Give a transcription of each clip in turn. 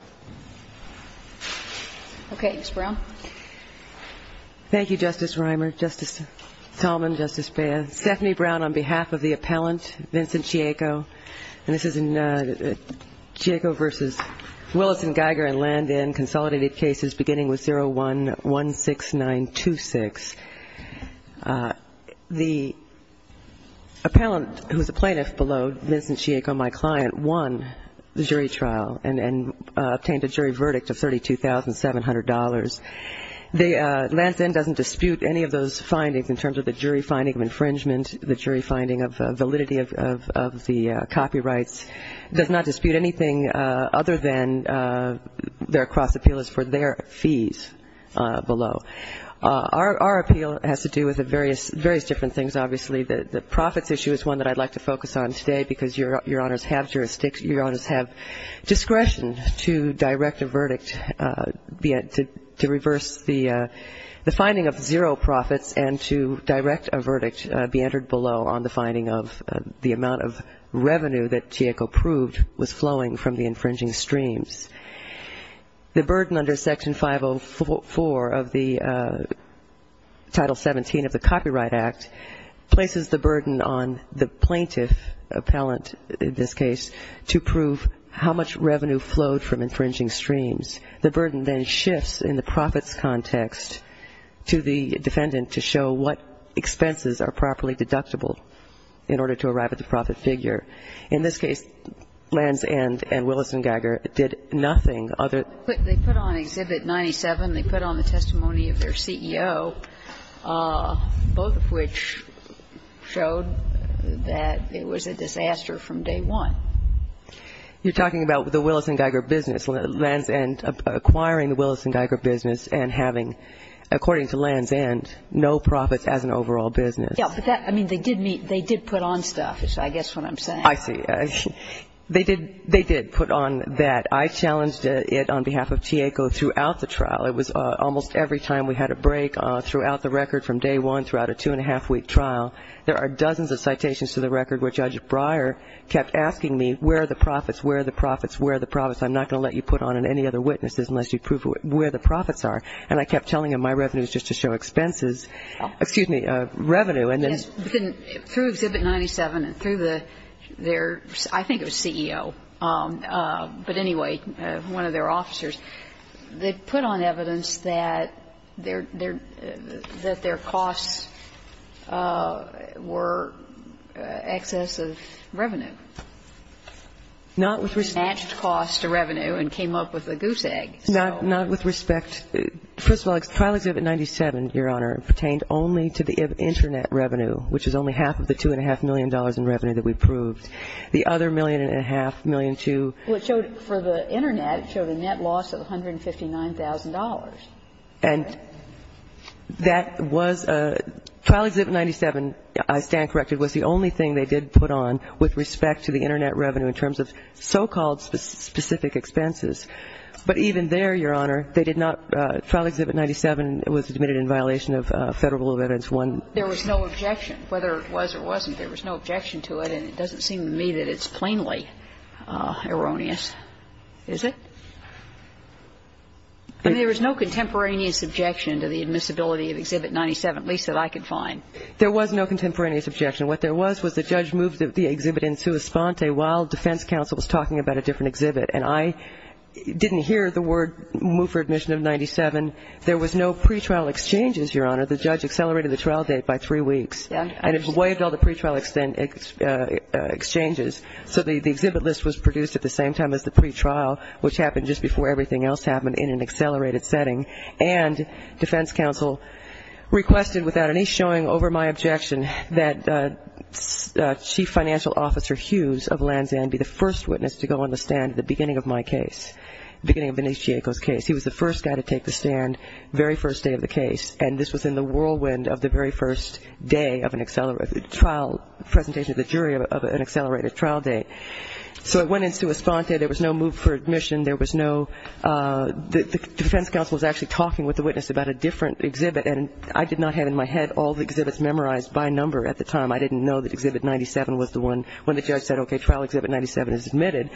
and Landon, Consolidated Cases, beginning with 01-16926. The appellant, who is the plaintiff below, Vincent Chieco, my client, won the jury trial, and he was acquitted. and he was acquitted. obtained a jury verdict of $32,700. Landon doesn't dispute any of those findings in terms of the jury finding of infringement, the jury finding of validity of the copyrights, does not dispute anything other than their cross-appeal is for their fees below. Our appeal has to do with various different things, obviously. The profits issue is one that I'd like to focus on today because your honors have jurisdiction, your honors have discretion to direct a verdict, to reverse the finding of zero profits and to direct a verdict be entered below on the finding of the amount of revenue that Chieco proved was flowing from the infringing streams. The burden under Section 504 of the Title 17 of the Copyright Act places the burden on the plaintiff appellant, in this case, to prove how much revenue flowed from infringing streams. The burden then shifts in the profits context to the defendant to show what expenses are They put on Exhibit 97, they put on the testimony of their CEO, both of which showed that it was a disaster from day one. You're talking about the Willis & Geiger business, Land's End acquiring the Willis & Geiger business and having, according to Land's End, no profits as an overall business. Yeah, but that, I mean, they did meet, they did put on stuff, is I guess what I'm saying. I see. They did put on that. I challenged it on behalf of Chieco throughout the trial. It was almost every time we had a break throughout the record from day one throughout a two-and-a-half-week trial, there are dozens of citations to the record where Judge Breyer kept asking me, where are the profits, where are the profits, where are the profits, I'm not going to let you put on any other witnesses unless you prove where the profits are. And I kept telling him my revenue is just to show expenses, excuse me, revenue. Through Exhibit 97 and through their, I think it was CEO, but anyway, one of their officers, they put on evidence that their costs were excess of revenue. Not with respect. Matched costs to revenue and came up with a goose egg. Not with respect. First of all, Trial Exhibit 97, Your Honor, pertained only to the Internet revenue, which is only half of the two-and-a-half million dollars in revenue that we proved. The other million and a half, million two. Well, it showed for the Internet, it showed a net loss of $159,000. And that was a – Trial Exhibit 97, I stand corrected, was the only thing they did put on with respect to the Internet revenue in terms of so-called specific expenses. But even there, Your Honor, they did not – Trial Exhibit 97 was admitted in violation of Federal Rule of Evidence 1. There was no objection. Whether it was or wasn't, there was no objection to it, and it doesn't seem to me that it's plainly erroneous. Is it? There was no contemporaneous objection to the admissibility of Exhibit 97, at least that I could find. There was no contemporaneous objection. What there was was the judge moved the exhibit in sua sponte while defense counsel was talking about a different exhibit. And I didn't hear the word move for admission of 97. There was no pretrial exchanges, Your Honor. The judge accelerated the trial date by three weeks. And it waived all the pretrial exchanges. So the exhibit list was produced at the same time as the pretrial, which happened just before everything else happened in an accelerated setting. And defense counsel requested, without any showing over my objection, that Chief Financial Officer Hughes of Lanzan be the first witness to go on the stand at the beginning of my case, beginning of Vinicius Chieco's case. He was the first guy to take the stand, very first day of the case. And this was in the whirlwind of the very first day of an accelerated trial, presentation of the jury of an accelerated trial date. So it went in sua sponte. There was no move for admission. There was no – the defense counsel was actually talking with the witness about a different exhibit. And I did not have in my head all the exhibits memorized by number at the time. I didn't know that exhibit 97 was the one when the judge said, okay, trial exhibit 97 is admitted.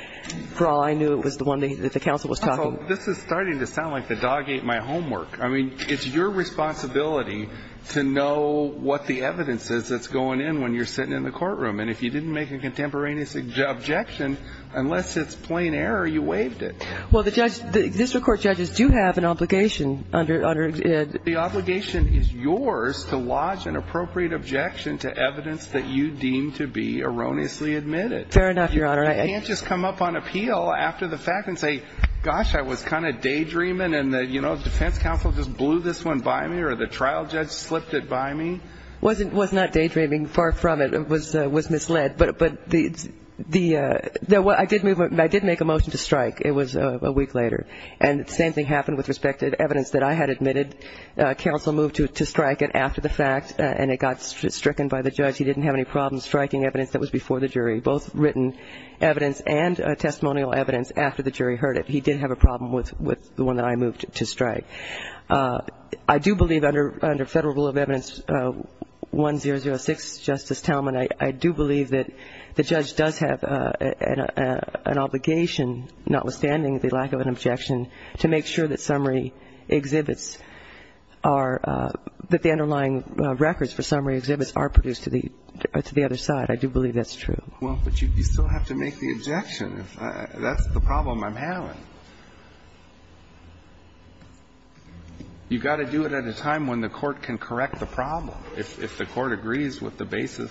For all I knew, it was the one that the counsel was talking. This is starting to sound like the dog ate my homework. I mean, it's your responsibility to know what the evidence is that's going in when you're sitting in the courtroom. And if you didn't make a contemporaneous objection, unless it's plain error, you waived it. Well, the district court judges do have an obligation under – The obligation is yours to lodge an appropriate objection to evidence that you deem to be erroneously admitted. Fair enough, Your Honor. You can't just come up on appeal after the fact and say, gosh, I was kind of daydreaming and the defense counsel just blew this one by me or the trial judge slipped it by me. It was not daydreaming. Far from it. It was misled. But the – I did make a motion to strike. It was a week later. And the same thing happened with respect to the evidence that I had admitted. Counsel moved to strike it after the fact, and it got stricken by the judge. He didn't have any problems striking evidence that was before the jury, both written evidence and testimonial evidence after the jury heard it. He did have a problem with the one that I moved to strike. I do believe under Federal Rule of Evidence 1006, Justice Talmadge, that I do believe that the judge does have an obligation, notwithstanding the lack of an objection, to make sure that summary exhibits are – that the underlying records for summary exhibits are produced to the other side. I do believe that's true. Well, but you still have to make the objection. That's the problem I'm having. You've got to do it at a time when the court can correct the problem. If the court agrees with the basis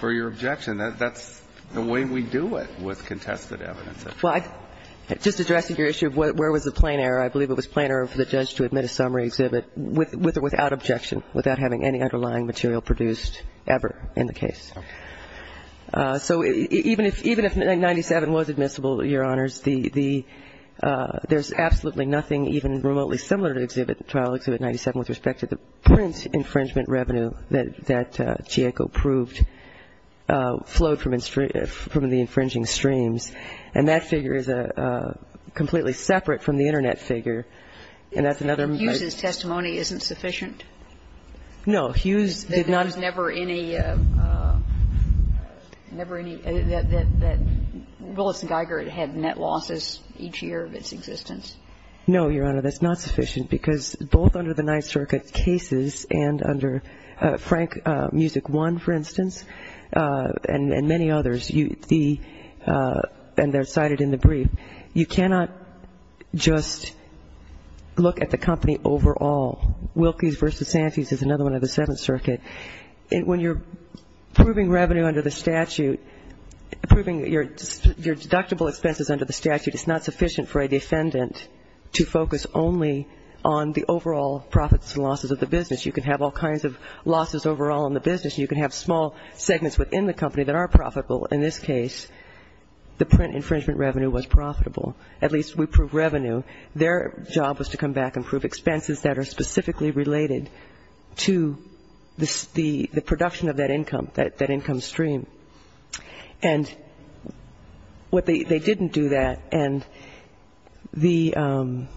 for your objection, that's the way we do it with contested evidence, et cetera. Well, I've just addressed your issue of where was the plain error. I believe it was plain error for the judge to admit a summary exhibit with or without objection, without having any underlying material produced ever in the case. Okay. So even if 97 was admissible, Your Honors, the – there's absolutely nothing even remotely similar to Exhibit – Trial Exhibit 97 with respect to the print infringement revenue that Chieko proved flowed from the infringing streams. And that figure is completely separate from the Internet figure. And that's another – But Hughes' testimony isn't sufficient? No. Hughes did not – That there was never any – never any – that Willis and Geiger had net losses each year of its existence. No, Your Honor. That's not sufficient, because both under the Ninth Circuit cases and under Frank Music I, for instance, and many others, the – and they're cited in the brief, you cannot just look at the company overall. Wilkies v. Santies is another one of the Seventh Circuit. When you're proving revenue under the statute, proving your deductible expenses under the statute, it's not sufficient for a defendant to focus only on the overall profits and losses of the business. You can have all kinds of losses overall in the business. You can have small segments within the company that are profitable. In this case, the print infringement revenue was profitable. At least we proved revenue. Their job was to come back and prove expenses that are specifically related to the production of that income, that income stream. And what they – they didn't do that. And the –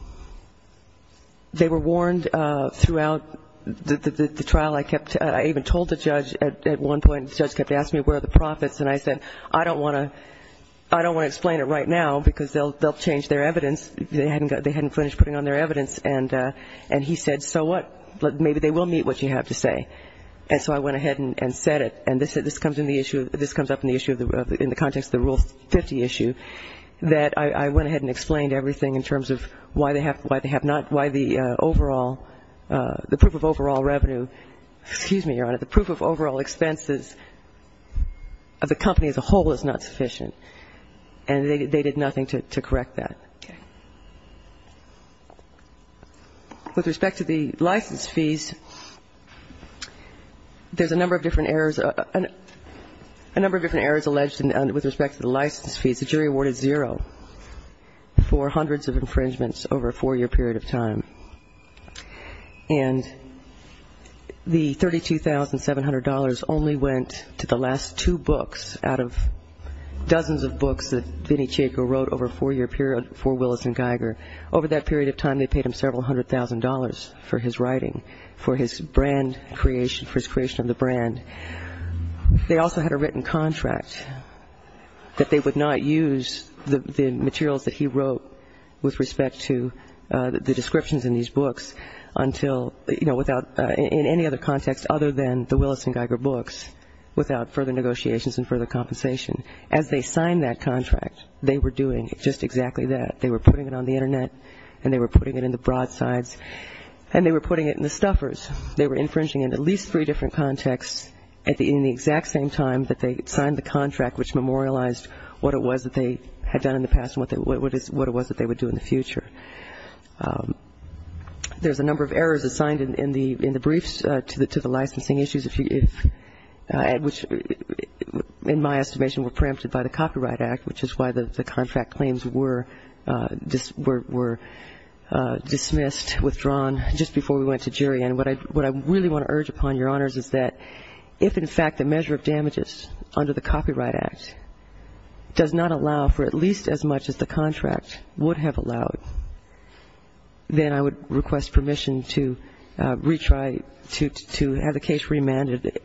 they were warned throughout the trial. I kept – I even told the judge at one point. The judge kept asking me, where are the profits? And I said, I don't want to – I don't want to explain it right now, because they'll change their evidence. They hadn't finished putting on their evidence. And he said, so what? Maybe they will meet what you have to say. And so I went ahead and said it. And this comes in the issue – this comes up in the issue in the context of the Rule 50 issue, that I went ahead and explained everything in terms of why they have – why they have not – why the overall – the proof of overall revenue – excuse me, Your Honor. The proof of overall expenses of the company as a whole is not sufficient. And they did nothing to correct that. Okay. With respect to the license fees, there's a number of different errors – a number of different errors alleged with respect to the license fees. The jury awarded zero for hundreds of infringements over a four-year period of time. And the $32,700 only went to the last two books out of dozens of books that Vinnie Chico wrote over a four-year period for Willis and Geiger. Over that period of time, they paid him several hundred thousand dollars for his writing, for his brand creation, for his creation of the brand. They also had a written contract that they would not use the materials that he wrote with respect to the descriptions in these books until – you know, without – in any other context other than the Willis and Geiger books without further negotiations and further compensation. As they signed that contract, they were doing just exactly that. They were putting it on the Internet and they were putting it in the broadsides and they were putting it in the stuffers. They were infringing in at least three different contexts in the exact same time that they signed the contract which memorialized what it was that they had done in the past and what it was that they would do in the future. There's a number of errors assigned in the briefs to the licensing issues, which in my estimation were preempted by the Copyright Act, which is why the contract claims were dismissed, withdrawn, just before we went to jury. And what I really want to urge upon Your Honors is that if, in fact, the measure of damages under the Copyright Act does not allow for at least as much as the contract would have allowed, then I would request permission to retry, to have the case remanded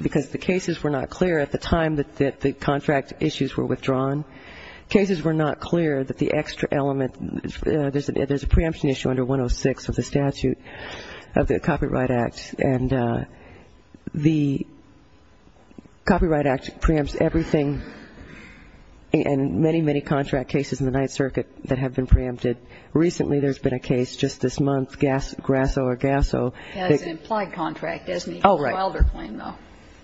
because the cases were not clear at the time that the contract issues were withdrawn. Cases were not clear that the extra element, there's a preemption issue under 106 of the statute, of the Copyright Act, and the Copyright Act preempts everything and many, many contract cases in the Ninth Circuit that have been preempted. Recently, there's been a case just this month, Grasso or Gasso. That's an implied contract, isn't it? Oh, right. The Wilder claim, though.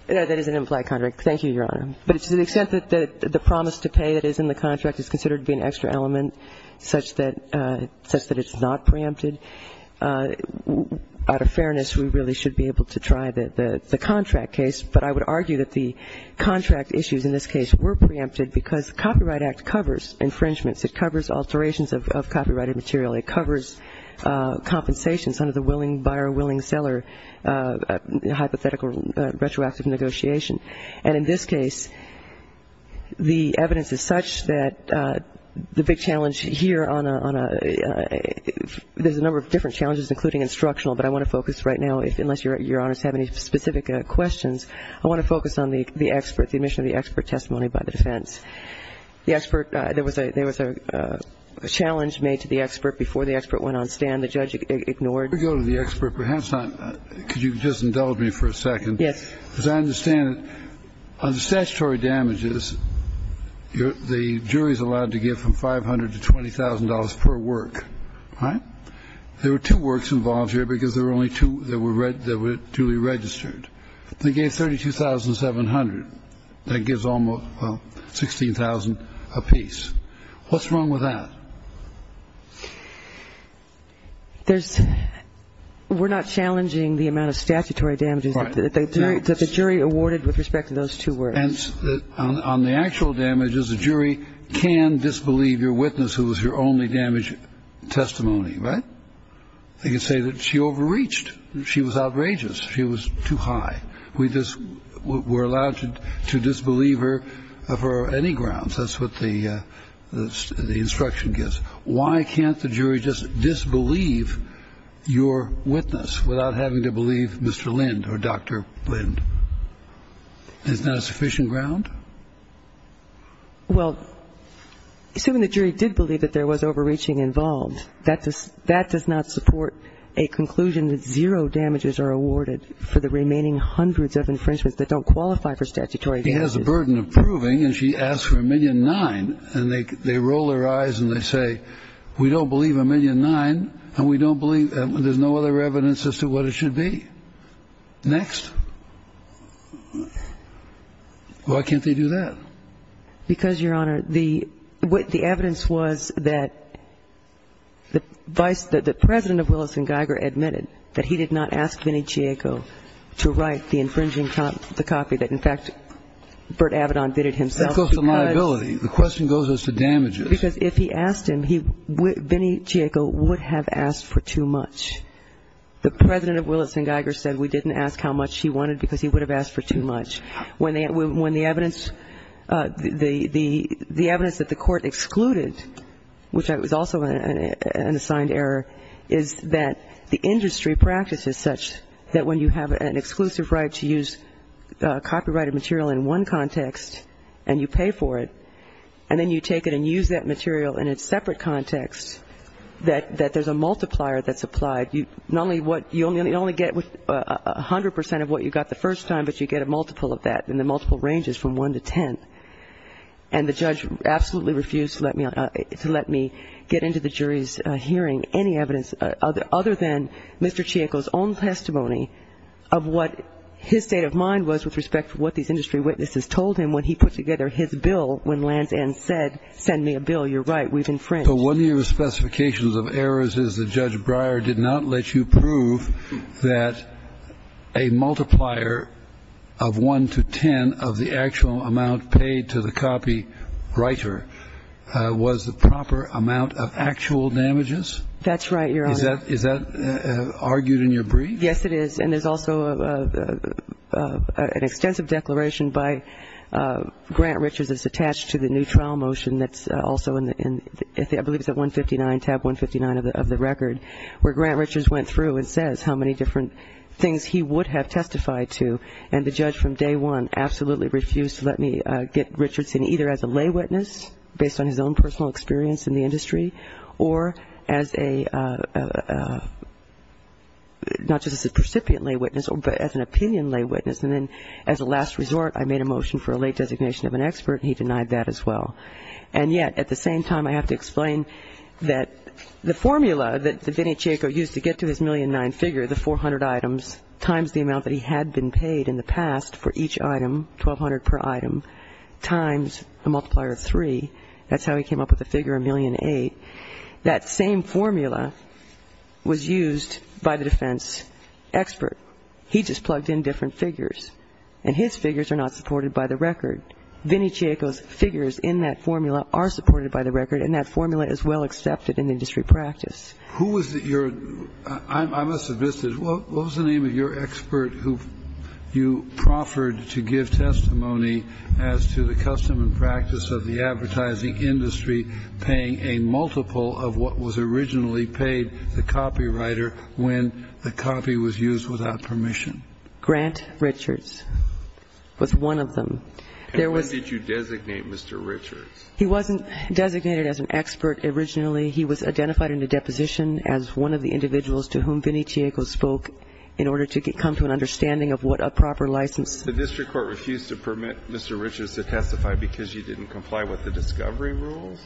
That is an implied contract. Thank you, Your Honor. But to the extent that the promise to pay that is in the contract is considered to be an extra element such that it's not preempted, out of fairness, we really should be able to try the contract case. But I would argue that the contract issues in this case were preempted because the Copyright Act covers infringements. It covers alterations of copyrighted material. It covers compensations under the buyer-willing-seller hypothetical retroactive negotiation. And in this case, the evidence is such that the big challenge here on a ñ there's a number of different challenges, including instructional, but I want to focus right now, unless Your Honors have any specific questions, I want to focus on the expert, the admission of the expert testimony by the defense. The expert ñ there was a ñ there was a challenge made to the expert before the expert went on stand. The judge ignored. Let me go to the expert. Perhaps not ñ could you just indulge me for a second? Yes. As I understand it, on the statutory damages, the jury is allowed to give from $500,000 to $20,000 per work. All right? There were two works involved here because there were only two that were duly registered. They gave $32,700. That gives almost ñ well, $16,000 apiece. What's wrong with that? There's ñ we're not challenging the amount of statutory damages that the jury awarded with respect to those two works. And on the actual damages, the jury can disbelieve your witness, who was your only damage testimony. Right? They can say that she overreached. She was outrageous. She was too high. We just ñ we're allowed to disbelieve her for any grounds. That's what the instruction gives. Why can't the jury just disbelieve your witness without having to believe Mr. Lind or Dr. Lind? Is that a sufficient ground? Well, assuming the jury did believe that there was overreaching involved, that does not support a conclusion that zero damages are awarded for the remaining hundreds of infringements that don't qualify for statutory damages. She has the burden of proving, and she asked for $1,000,009, and they roll their eyes and they say, we don't believe $1,000,009, and we don't believe ñ there's no other evidence as to what it should be. Next. Why can't they do that? Because, Your Honor, the evidence was that the vice ñ that the President of Willis & Geiger admitted that he did not ask Vinnie Chieco to write the infringing copy that, in fact, Burt Avedon bidded himself. That goes to liability. The question goes as to damages. Because if he asked him, Vinnie Chieco would have asked for too much. The President of Willis & Geiger said we didn't ask how much he wanted because he would have asked for too much. When the evidence ñ the evidence that the Court excluded, which was also an assigned error, is that the industry practice is such that when you have an exclusive right to use copyrighted material in one context and you pay for it, and then you take it and use that material in a separate context, that there's a multiplier that's applied. You only get 100 percent of what you got the first time, but you get a multiple of that, and the multiple ranges from one to ten. And the judge absolutely refused to let me get into the jury's hearing any evidence other than Mr. Chieco's own testimony of what his state of mind was with respect to what these industry witnesses told him when he put together his bill when Lands' End said, send me a bill, you're right, we've infringed. So one of your specifications of errors is that Judge Breyer did not let you prove that a multiplier of one to ten of the actual amount paid to the copywriter was the proper amount of actual damages? That's right, Your Honor. Is that argued in your brief? Yes, it is, and there's also an extensive declaration by Grant Richards that's attached to the new trial motion that's also in, I believe it's at 159, tab 159 of the record, where Grant Richards went through and says how many different things he would have testified to, and the judge from day one absolutely refused to let me get Richards in either as a lay witness, based on his own personal experience in the industry, or as a, not just as a precipient lay witness, but as an opinion lay witness. And then as a last resort, I made a motion for a late designation of an expert, and he denied that as well. And yet, at the same time, I have to explain that the formula that Vinnie Chico used to get to his 1,000,009 figure, the 400 items, times the amount that he had been paid in the past for each item, 1,200 per item, times a multiplier of three, that's how he came up with the figure of 1,000,008, that same formula was used by the defense expert. He just plugged in different figures. And his figures are not supported by the record. Vinnie Chico's figures in that formula are supported by the record, and that formula is well accepted in industry practice. Kennedy. Who was your, I must admit, what was the name of your expert who you proffered to give testimony as to the custom and practice of the advertising industry paying a multiple of what was originally paid, the copywriter, when the copy was used without permission? Grant Richards was one of them. And when did you designate Mr. Richards? He wasn't designated as an expert originally. He was identified in the deposition as one of the individuals to whom Vinnie Chico spoke in order to come to an understanding of what a proper license. The district court refused to permit Mr. Richards to testify because he didn't comply with the discovery rules?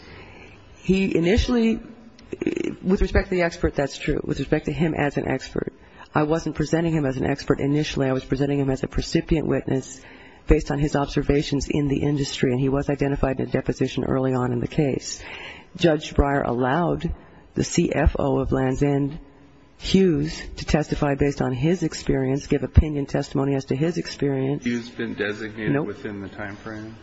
He initially, with respect to the expert, that's true. With respect to him as an expert, I wasn't presenting him as an expert initially. I was presenting him as a precipient witness based on his observations in the industry, and he was identified in a deposition early on in the case. Judge Breyer allowed the CFO of Land's End, Hughes, to testify based on his experience, give opinion testimony as to his experience. Has Hughes been designated within the time frame?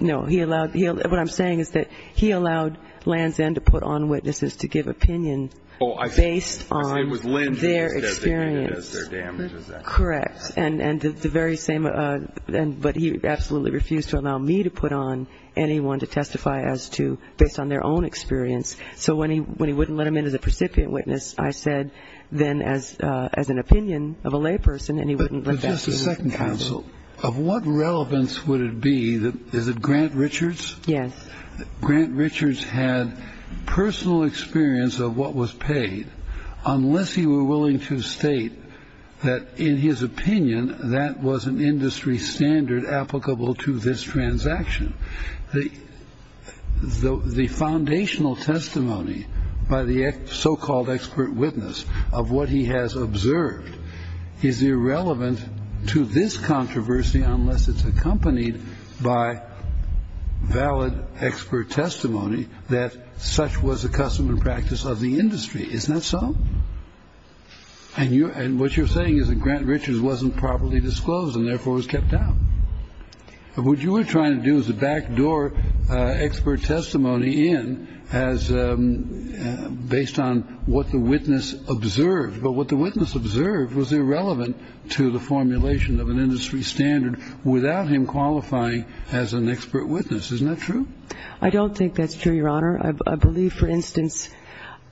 No. No. What I'm saying is that he allowed Land's End to put on witnesses to give opinion based on their experience. Oh, I see. I see. It was Land's End that was designated as their damage. Is that correct? Correct. And the very same, but he absolutely refused to allow me to put on anyone to testify as to, based on their own experience. So when he wouldn't let him in as a precipient witness, I said then as an opinion of a layperson, and he wouldn't let that happen. Just a second, counsel. Of what relevance would it be that, is it Grant Richards? Yes. Grant Richards had personal experience of what was paid unless he were willing to state that, in his opinion, that was an industry standard applicable to this transaction. The foundational testimony by the so-called expert witness of what he has observed is irrelevant to this controversy unless it's accompanied by valid expert testimony that such was a custom and practice of the industry. Isn't that so? And what you're saying is that Grant Richards wasn't properly disclosed and therefore was kept out. What you were trying to do is a backdoor expert testimony in as based on what the witness observed. But what the witness observed was irrelevant to the formulation of an industry standard without him qualifying as an expert witness. Isn't that true? I don't think that's true, Your Honor. I believe, for instance,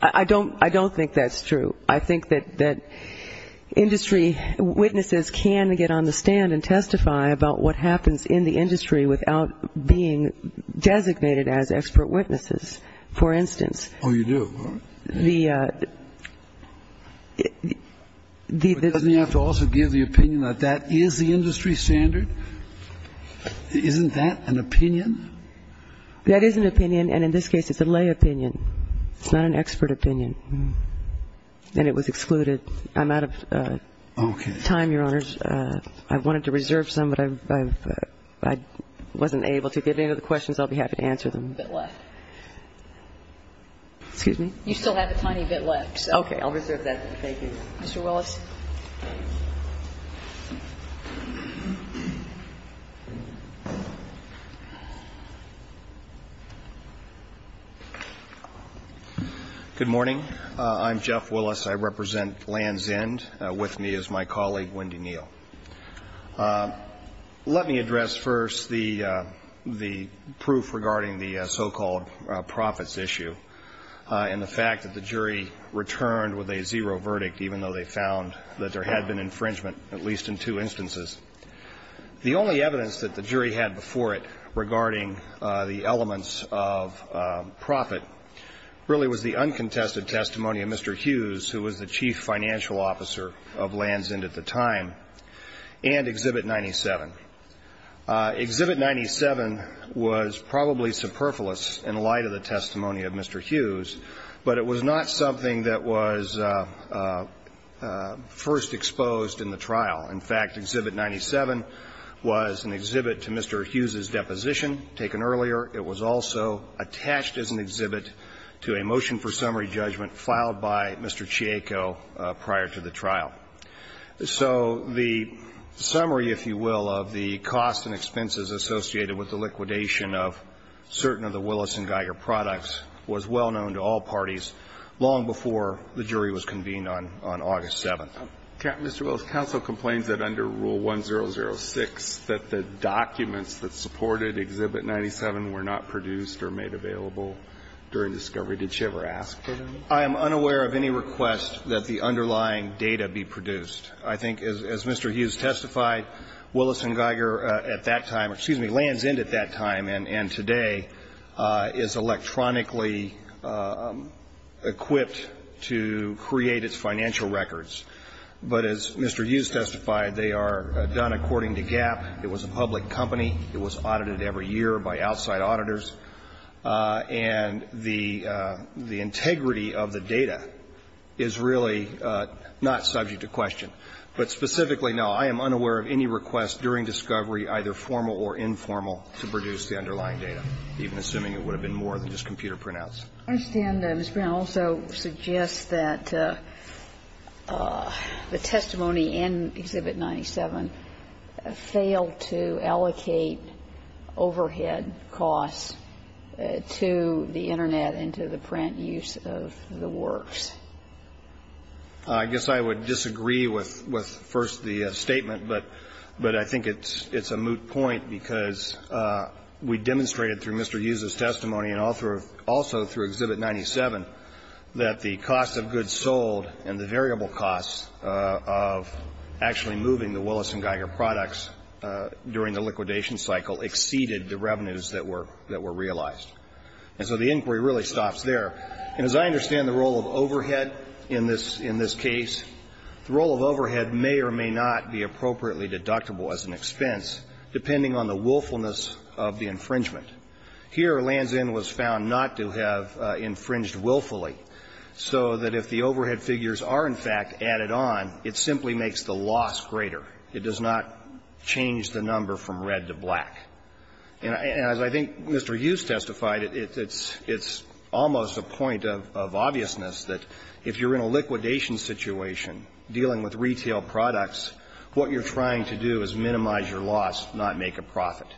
I don't think that's true. I think that industry witnesses can get on the stand and testify about what happens in the industry without being designated as expert witnesses. For instance. Oh, you do. Doesn't he have to also give the opinion that that is the industry standard? Isn't that an opinion? That is an opinion. And in this case, it's a lay opinion. It's not an expert opinion. And it was excluded. I'm out of time, Your Honors. I wanted to reserve some, but I wasn't able to. If you have any other questions, I'll be happy to answer them. You still have a tiny bit left. Excuse me? You still have a tiny bit left. Okay. I'll reserve that then. Thank you. Mr. Willis. Good morning. I'm Jeff Willis. I represent Land's End. With me is my colleague, Wendy Neal. Let me address first the proof regarding the so-called profits issue and the fact that the jury returned with a zero verdict, even though they found that there had been infringement, at least in two instances. The only evidence that the jury had before it regarding the elements of profit really was the uncontested testimony of Mr. Hughes, who was the chief financial officer of Land's End at the time, and Exhibit 97. Exhibit 97 was probably superfluous in light of the testimony of Mr. Hughes, but it was not something that was first exposed in the trial. In fact, Exhibit 97 was an exhibit to Mr. Hughes's deposition taken earlier. It was also attached as an exhibit to a motion for summary judgment filed by Mr. Chieco prior to the trial. So the summary, if you will, of the costs and expenses associated with the liquidation of certain of the Willis and Geiger products was well known to all parties long before the jury was convened on August 7th. Mr. Willis, counsel complains that under Rule 1006 that the documents that supported Exhibit 97 were not produced or made available during discovery. Did she ever ask for them? I am unaware of any request that the underlying data be produced. I think, as Mr. Hughes testified, Willis and Geiger at that time or, excuse me, Land's at that time and today is electronically equipped to create its financial records. But as Mr. Hughes testified, they are done according to GAP. It was a public company. It was audited every year by outside auditors. And the integrity of the data is really not subject to question. But specifically, no, I am unaware of any request during discovery, either formal or informal, to produce the underlying data, even assuming it would have been more than just computer printouts. I understand that Ms. Brown also suggests that the testimony in Exhibit 97 failed to allocate overhead costs to the Internet and to the print use of the works. I guess I would disagree with first the statement. But I think it's a moot point because we demonstrated through Mr. Hughes' testimony and also through Exhibit 97 that the cost of goods sold and the variable costs of actually moving the Willis and Geiger products during the liquidation cycle exceeded the revenues that were realized. And so the inquiry really stops there. And as I understand the role of overhead in this case, the role of overhead may or may not be appropriately deductible as an expense, depending on the willfulness of the infringement. Here, Lanzin was found not to have infringed willfully, so that if the overhead figures are, in fact, added on, it simply makes the loss greater. It does not change the number from red to black. And as I think Mr. Hughes testified, it's almost a point of obviousness that if you're in a liquidation situation, dealing with retail products, what you're trying to do is minimize your loss, not make a profit.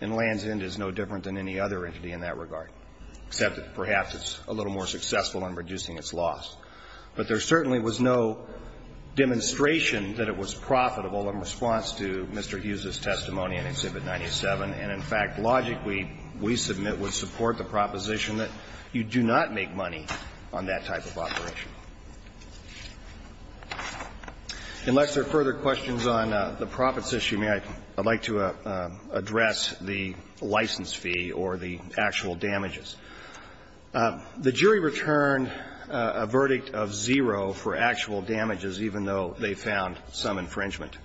And Lanzin is no different than any other entity in that regard, except that perhaps it's a little more successful in reducing its loss. But there certainly was no demonstration that it was profitable in response to Mr. Hughes' testimony. And in fact, logic, we submit, would support the proposition that you do not make money on that type of operation. Unless there are further questions on the profits issue, may I? I'd like to address the license fee or the actual damages. The jury returned a verdict of zero for actual damages, even though they found some infringement.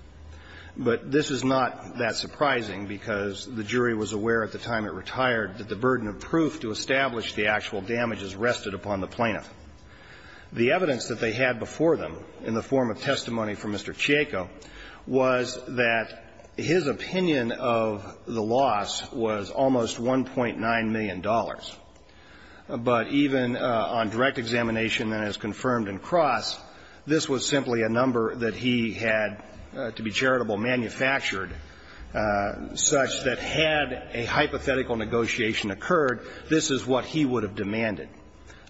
But this is not that surprising, because the jury was aware at the time it retired that the burden of proof to establish the actual damage is rested upon the plaintiff. The evidence that they had before them in the form of testimony from Mr. Chieko was that his opinion of the loss was almost $1.9 million. But even on direct examination and as confirmed in Cross, this was simply a number that he had to be charitable manufactured, such that had a hypothetical negotiation occurred, this is what he would have demanded.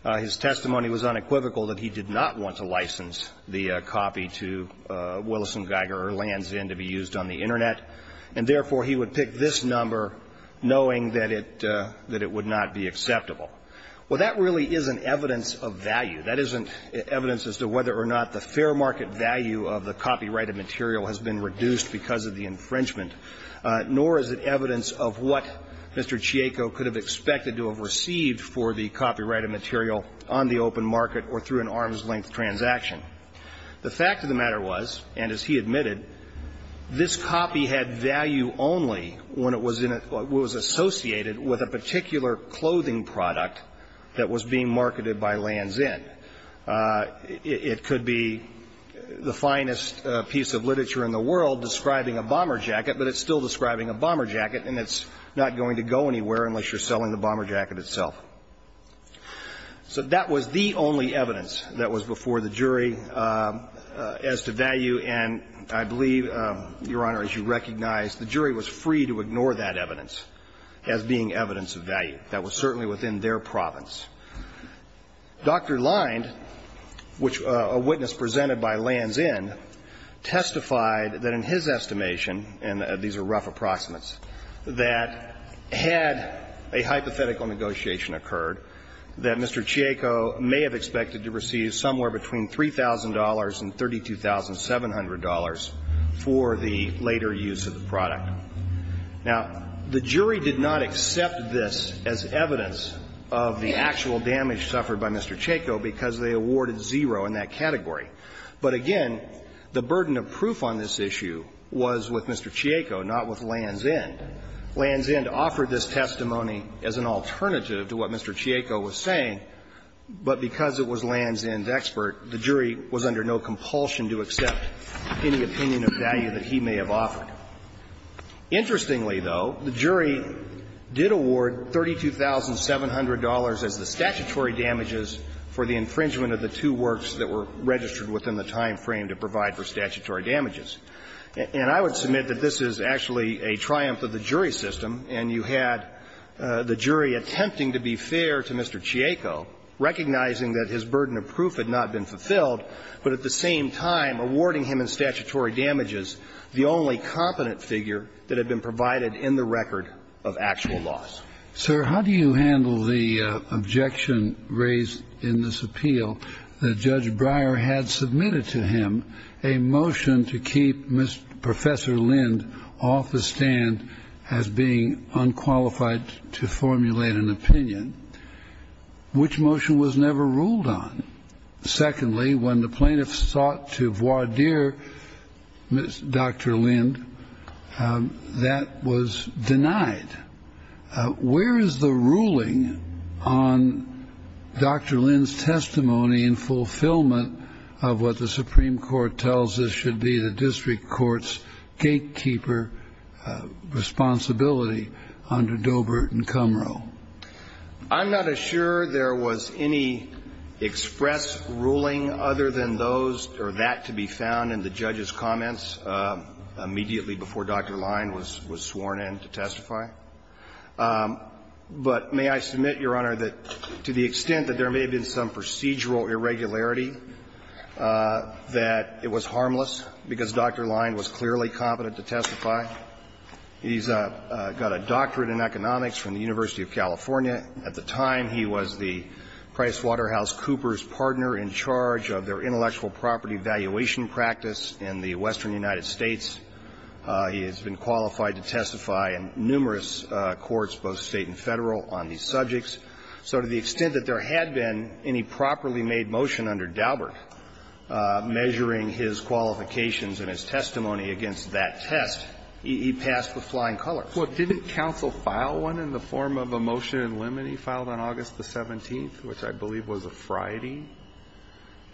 His testimony was unequivocal that he did not want to license the copy to Willis & Geiger or Land's Inn to be used on the Internet, and therefore he would pick this number knowing that it would not be acceptable. Well, that really isn't evidence of value. That isn't evidence as to whether or not the fair market value of the copyrighted material has been reduced because of the infringement, nor is it evidence of what Mr. Chieko could have expected to have received for the copyrighted material on the open market or through an arm's-length transaction. The fact of the matter was, and as he admitted, this copy had value only when it was associated with a particular clothing product that was being marketed by Land's Inn. It could be the finest piece of literature in the world describing a bomber jacket, but it's still describing a bomber jacket, and it's not going to go anywhere unless you're selling the bomber jacket itself. So that was the only evidence that was before the jury as to value, and I believe, Your Honor, as you recognize, the jury was free to ignore that evidence as being evidence of value. That was certainly within their province. Dr. Linde, which a witness presented by Land's Inn, testified that in his estimation and these are rough approximates, that had a hypothetical negotiation occurred that Mr. Chieko may have expected to receive somewhere between $3,000 and $32,700 for the later use of the product. Now, the jury did not accept this as evidence of the actual damage suffered by Mr. Chieko because they awarded zero in that category. But again, the burden of proof on this issue was with Mr. Chieko, not with Land's Inn. Land's Inn offered this testimony as an alternative to what Mr. Chieko was saying, but because it was Land's Inn's expert, the jury was under no compulsion to accept any opinion of value that he may have offered. Interestingly, though, the jury did award $32,700 as the statutory damages for the infringement of the two works that were registered within the time frame to provide for statutory damages. And I would submit that this is actually a triumph of the jury system, and you had the jury attempting to be fair to Mr. Chieko, recognizing that his burden of proof had not been fulfilled, but at the same time, awarding him in statutory damages the only competent figure that had been provided in the record of actual loss. Sir, how do you handle the objection raised in this appeal that Judge Breyer had submitted to him, a motion to keep Professor Lind off the stand as being unqualified to formulate an opinion, which motion was never ruled on? Secondly, when the plaintiff sought to voir dire Dr. Lind, that was denied. Where is the ruling on Dr. Lind's testimony in fulfillment of what the Supreme Court tells us should be the district court's gatekeeper responsibility under Dobert and Kumrow? I'm not as sure there was any express ruling other than those or that to be found in the judge's comments immediately before Dr. Lind was sworn in to testify. But may I submit, Your Honor, that to the extent that there may have been some procedural irregularity, that it was harmless, because Dr. Lind was clearly competent to testify. He's got a doctorate in economics from the University of California. At the time, he was the PricewaterhouseCoopers partner in charge of their intellectual property valuation practice in the Western United States. He has been qualified to testify in numerous courts, both State and Federal, on these subjects. So to the extent that there had been any properly made motion under Daubert measuring his qualifications and his testimony against that test, he passed with flying colors. Well, didn't counsel file one in the form of a motion in limine filed on August the 17th, which I believe was a Friday?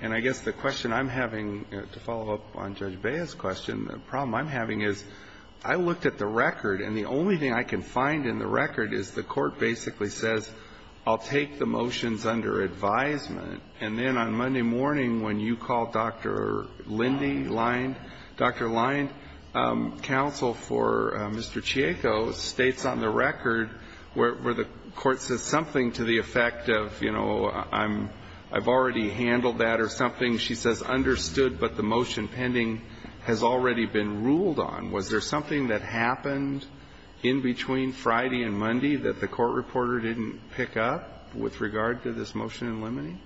And I guess the question I'm having, to follow up on Judge Baez's question, the problem I'm having is I looked at the record, and the only thing I can find in the record is the court basically says, I'll take the motions under advisement, and then on Monday morning, when you call Dr. Lindy, Dr. Linde, counsel for Mr. Chieco states on the record where the court says something to the effect of, you know, I've already handled that or something. She says, understood, but the motion pending has already been ruled on. Was there something that happened in between Friday and Monday that the court reporter didn't pick up with regard to this motion in limine?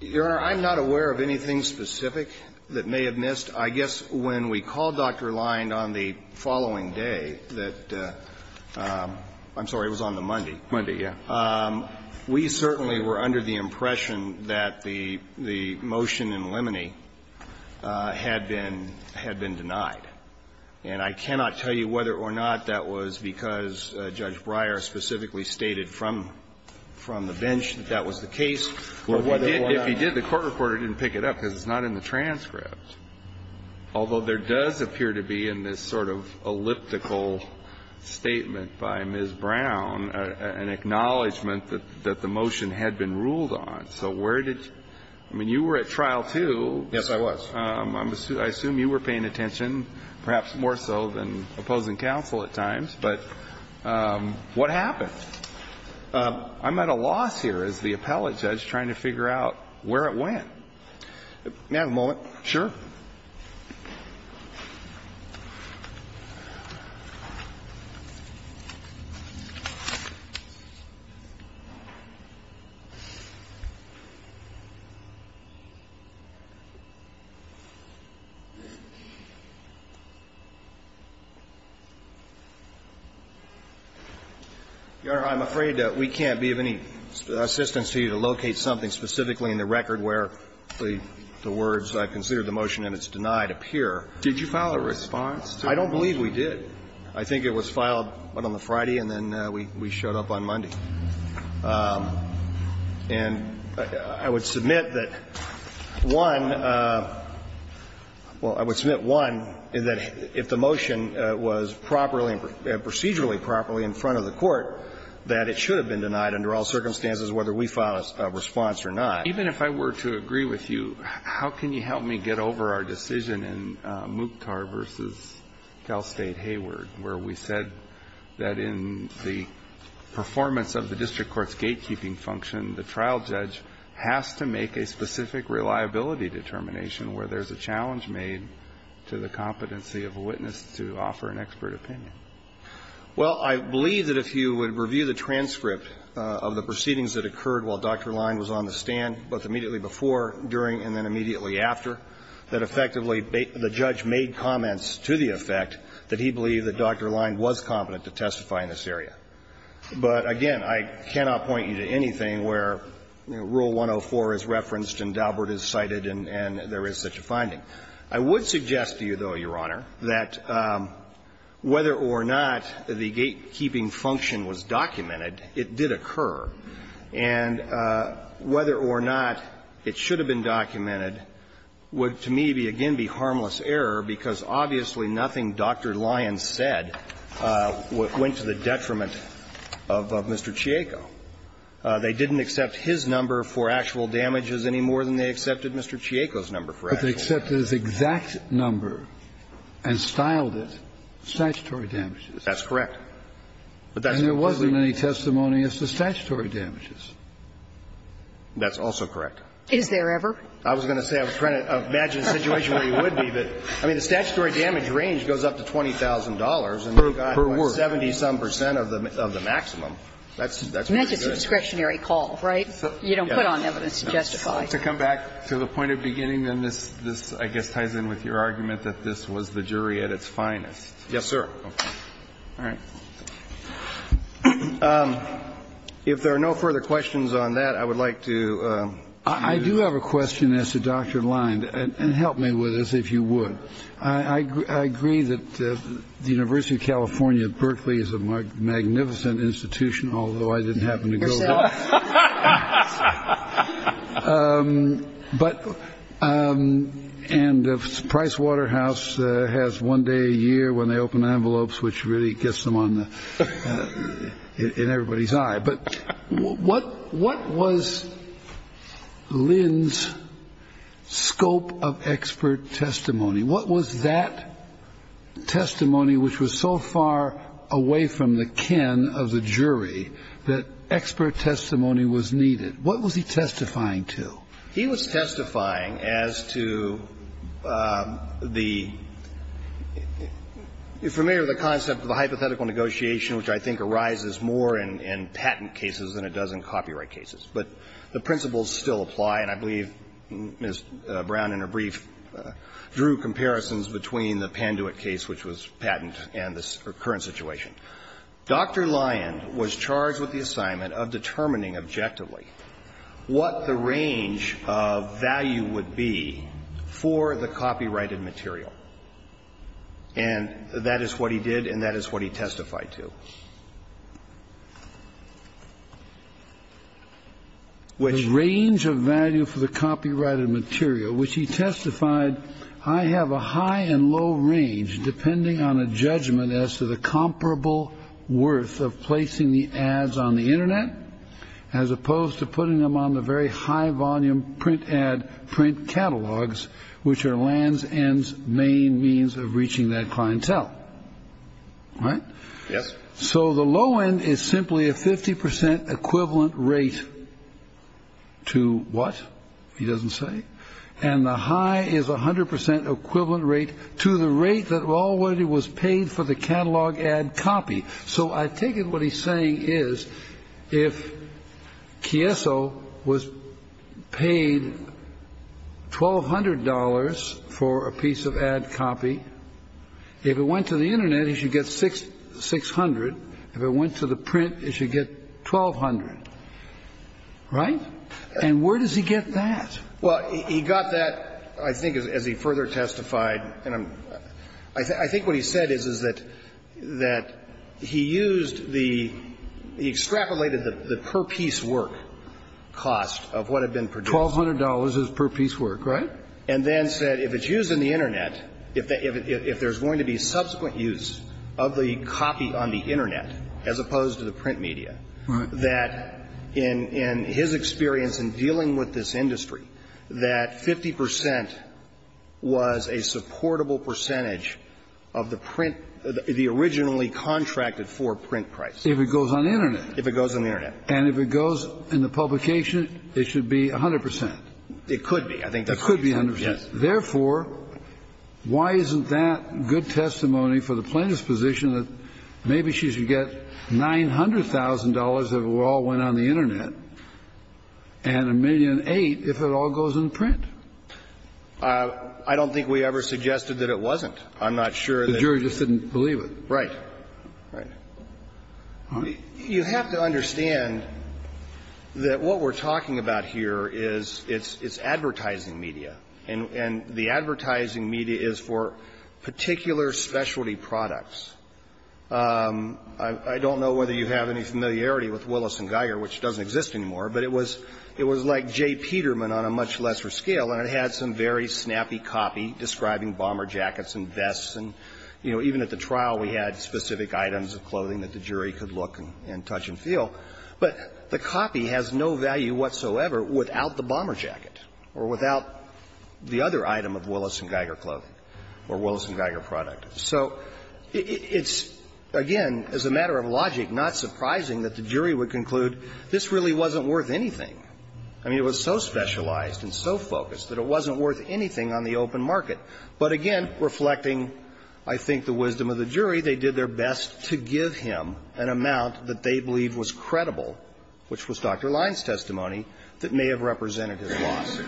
Your Honor, I'm not aware of anything specific that may have missed. I guess when we called Dr. Linde on the following day that the – I'm sorry, it was on the Monday. Monday, yeah. We certainly were under the impression that the motion in limine had been denied. And I cannot tell you whether or not that was because Judge Breyer specifically stated from the bench that that was the case or whether or not – Well, if he did, the court reporter didn't pick it up because it's not in the transcript. Although there does appear to be in this sort of elliptical statement by Ms. Brown an acknowledgment that the motion had been ruled on. So where did – I mean, you were at trial, too. Yes, I was. I assume you were paying attention, perhaps more so than opposing counsel at times. But what happened? I'm at a loss here as the appellate judge trying to figure out where it went. May I have a moment? Sure. Your Honor, I'm afraid that we can't be of any assistance to you to locate something specifically in the record where the words, I consider the motion and it's denied, appear. Did you file a response to the motion? I don't believe we did. I think it was filed, what, on the Friday and then we showed up on Monday. And I would submit that, one – well, I would submit, one, that if the motion was properly and procedurally properly in front of the court, that it should have been denied under all circumstances, whether we filed a response or not. Even if I were to agree with you, how can you help me get over our decision in Mukhtar v. Cal State Hayward, where we said that in the performance of the district court's gatekeeping function, the trial judge has to make a specific reliability determination where there's a challenge made to the competency of a witness to offer an expert opinion? Well, I believe that if you would review the transcript of the proceedings that occurred while Dr. Line was on the stand, both immediately before, during, and then immediately after, that effectively the judge made comments to the effect that he believed that Dr. Line was competent to testify in this area. But, again, I cannot point you to anything where Rule 104 is referenced and Daubert is cited and there is such a finding. I would suggest to you, though, Your Honor, that whether or not the gatekeeping function was documented, it did occur. And whether or not it should have been documented would, to me, again, be harmless error because obviously nothing Dr. Line said went to the detriment of Mr. Chieko. They didn't accept his number for actual damages any more than they accepted Mr. Chieko's number for actual damages. They accepted his exact number and styled it statutory damages. That's correct. And there wasn't any testimony as to statutory damages. That's also correct. Is there ever? I was going to say, I was trying to imagine a situation where you would be, but I mean, the statutory damage range goes up to $20,000 and you've got about 70-some percent of the maximum. That's pretty good. And that's just a discretionary call, right? You don't put on evidence to justify. I'd like to come back to the point at the beginning, and this, I guess, ties in with your argument that this was the jury at its finest. Yes, sir. All right. If there are no further questions on that, I would like to move. I do have a question as to Dr. Line, and help me with this if you would. I agree that the University of California at Berkeley is a magnificent institution, although I didn't happen to go there. But, and the Price Waterhouse has one day a year when they open envelopes, which really gets them on in everybody's eye. But what was Lin's scope of expert testimony? What was that testimony which was so far away from the kin of the jury that expert testimony was needed? What was he testifying to? He was testifying as to the you're familiar with the concept of the hypothetical negotiation, which I think arises more in patent cases than it does in copyright cases. But the principles still apply, and I believe Ms. Brown, in her brief, drew comparisons between the Panduit case, which was patent, and the current situation. Dr. Line was charged with the assignment of determining objectively what the range of value would be for the copyrighted material. And that is what he did, and that is what he testified to. Which range of value for the copyrighted material, which he testified, I have a high and low range, depending on a judgment as to the comparable worth of placing the ads on the internet, as opposed to putting them on the very high volume print ad print catalogs, which are Land's End's main means of reaching that clientele. Right? Yes. So the low end is simply a 50% equivalent rate to what, he doesn't say. And the high is 100% equivalent rate to the rate that already was paid for the catalog ad copy. So I take it what he's saying is, if Kieso was paid $1,200 for a piece of ad copy, if it went to the internet, he should get $600. If it went to the print, it should get $1,200. Right? And where does he get that? Well, he got that, I think, as he further testified, and I'm – I think what he said is, is that he used the – he extrapolated the per-piece work cost of what had been produced. $1,200 is per-piece work, right? And then said if it's used in the internet, if there's going to be subsequent use of the copy on the internet, as opposed to the print media, that in his experience in dealing with this industry, that 50% was a supportable percentage of the print – the originally contracted for print price. If it goes on the internet. If it goes on the internet. And if it goes in the publication, it should be 100%. It could be. I think that's what he said. It could be 100%. Yes. Therefore, why isn't that good testimony for the plaintiff's position that maybe she should get $900,000 if it all went on the internet, and $1,008,000 if it all goes in print? I don't think we ever suggested that it wasn't. I'm not sure that the jury just didn't believe it. Right. Right. You have to understand that what we're talking about here is it's advertising media, and the advertising media is for particular specialty products. I don't know whether you have any familiarity with Willis & Geiger, which doesn't exist anymore, but it was like Jay Peterman on a much lesser scale, and it had some very snappy copy describing bomber jackets and vests, and, you know, even at the trial we had specific items of clothing that the jury could look and touch and feel. But the copy has no value whatsoever without the bomber jacket or without the other item of Willis & Geiger clothing or Willis & Geiger product. So it's, again, as a matter of logic, not surprising that the jury would conclude this really wasn't worth anything. I mean, it was so specialized and so focused that it wasn't worth anything on the open market. But, again, reflecting, I think, the wisdom of the jury, they did their best to give him an amount that they believe was credible, which was Dr. Lines' testimony, that may have represented his loss.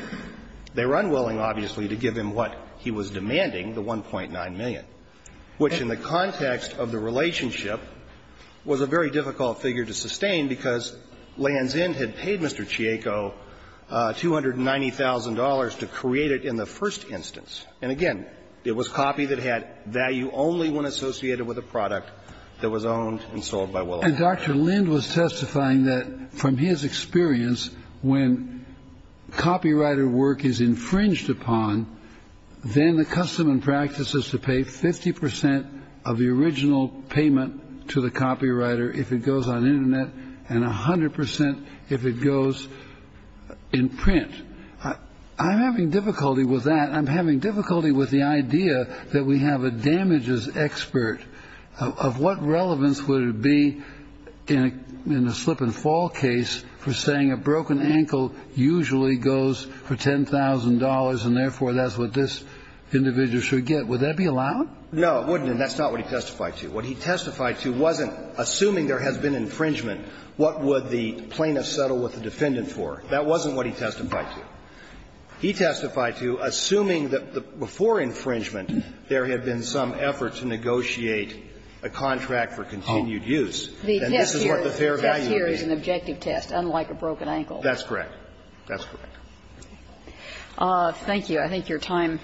They were unwilling, obviously, to give him what he was demanding, the $1.9 million. Which, in the context of the relationship, was a very difficult figure to sustain because Land's End had paid Mr. Chieco $290,000 to create it in the first instance. And, again, it was copy that had value only when associated with a product that was owned and sold by Willis & Geiger. And Dr. Lind was testifying that, from his experience, when copywriter work is infringed upon, then the custom and practice is to pay 50% of the original payment to the copywriter if it goes on internet and 100% if it goes in print. I'm having difficulty with that. I'm having difficulty with the idea that we have a damages expert. Of what relevance would it be in a slip and fall case for saying a broken ankle usually goes for $10,000 and, therefore, that's what this individual should get? Would that be allowed? No, it wouldn't. And that's not what he testified to. What he testified to wasn't assuming there has been infringement, what would the plaintiff settle with the defendant for. That wasn't what he testified to. He testified to assuming that before infringement there had been some effort to negotiate a contract for continued use. And this is what the fair value rate is. The test here is an objective test, unlike a broken ankle. That's correct. That's correct. Thank you. I think your time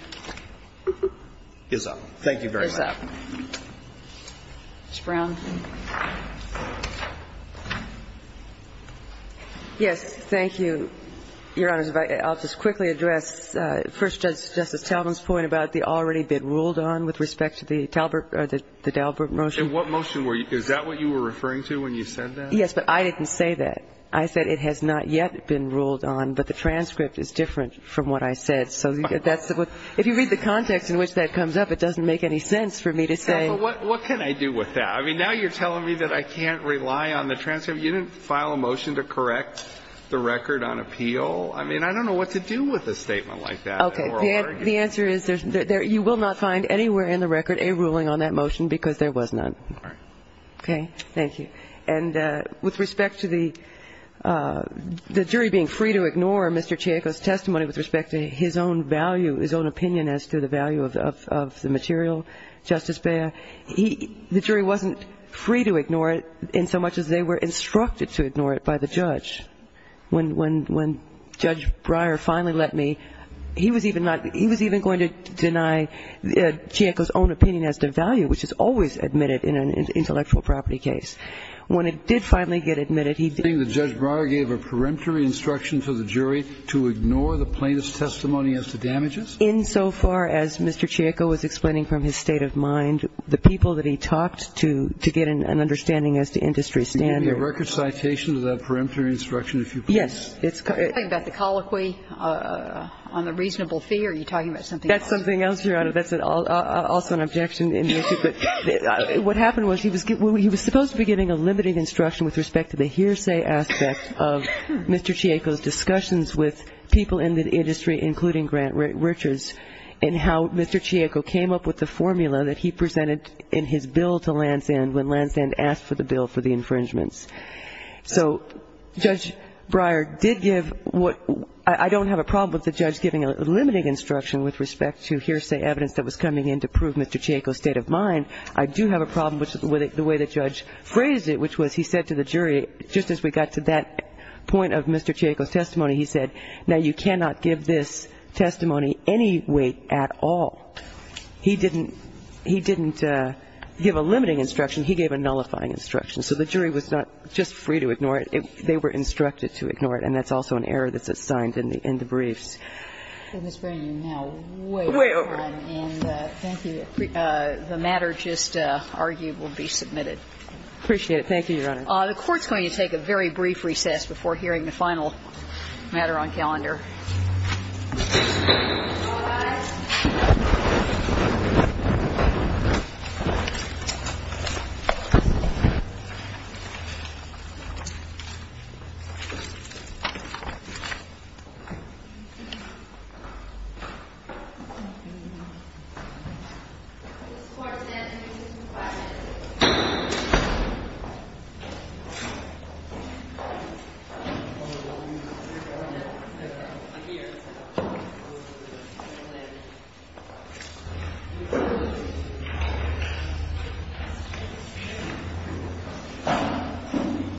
is up. Thank you very much. It's up. Ms. Brown. Yes, thank you, Your Honors. I'll just quickly address First Justice Talbot's point about the already-been-ruled-on with respect to the Talbot or the Dalbert motion. And what motion were you – is that what you were referring to when you said that? Yes, but I didn't say that. I said it has not yet been ruled on, but the transcript is different from what I said. So that's – if you read the context in which that comes up, it doesn't make any sense for me to say – Yes, but what can I do with that? I mean, now you're telling me that I can't rely on the transcript. You didn't file a motion to correct the record on appeal. I mean, I don't know what to do with a statement like that. Okay. The answer is you will not find anywhere in the record a ruling on that motion because there was none. All right. Okay. Thank you. And with respect to the jury being free to ignore Mr. Chianco's testimony with respect to his own value, his own opinion as to the value of the material, Justice Beyer, he – the jury wasn't free to ignore it in so much as they were instructed to ignore it by the judge. When Judge Breyer finally let me, he was even not – he was even going to deny Chianco's own opinion as to value, which is always admitted in an intellectual property case. When it did finally get admitted, he did – You're saying that Judge Breyer gave a peremptory instruction to the jury to ignore the plaintiff's testimony as to damages? In so far as Mr. Chianco was explaining from his state of mind, the people that he talked to, to get an understanding as to industry standards – Can you give me a record citation to that peremptory instruction, if you please? Yes. It's – Are you talking about the colloquy on the reasonable fee, or are you talking about something else? That's something else, Your Honor. That's also an objection in the issue. But what happened was he was – he was supposed to be giving a limiting instruction with respect to the hearsay aspect of Mr. Chianco's discussions with people in the industry, including Grant Richards, and how Mr. Chianco came up with the formula that he presented in his bill to Lansdane when Lansdane asked for the bill for the infringements. So Judge Breyer did give what – I don't have a problem with the judge giving a limiting instruction with respect to hearsay evidence that was I do have a problem with the way the judge phrased it, which was he said to the jury, just as we got to that point of Mr. Chianco's testimony, he said, now, you cannot give this testimony any weight at all. He didn't – he didn't give a limiting instruction. He gave a nullifying instruction. So the jury was not just free to ignore it. They were instructed to ignore it, and that's also an error that's assigned in the briefs. Ms. Bray, you're now way over time. And thank you. The matter just argued will be submitted. Appreciate it. Thank you, Your Honor. The Court's going to take a very brief recess before hearing the final matter on calendar.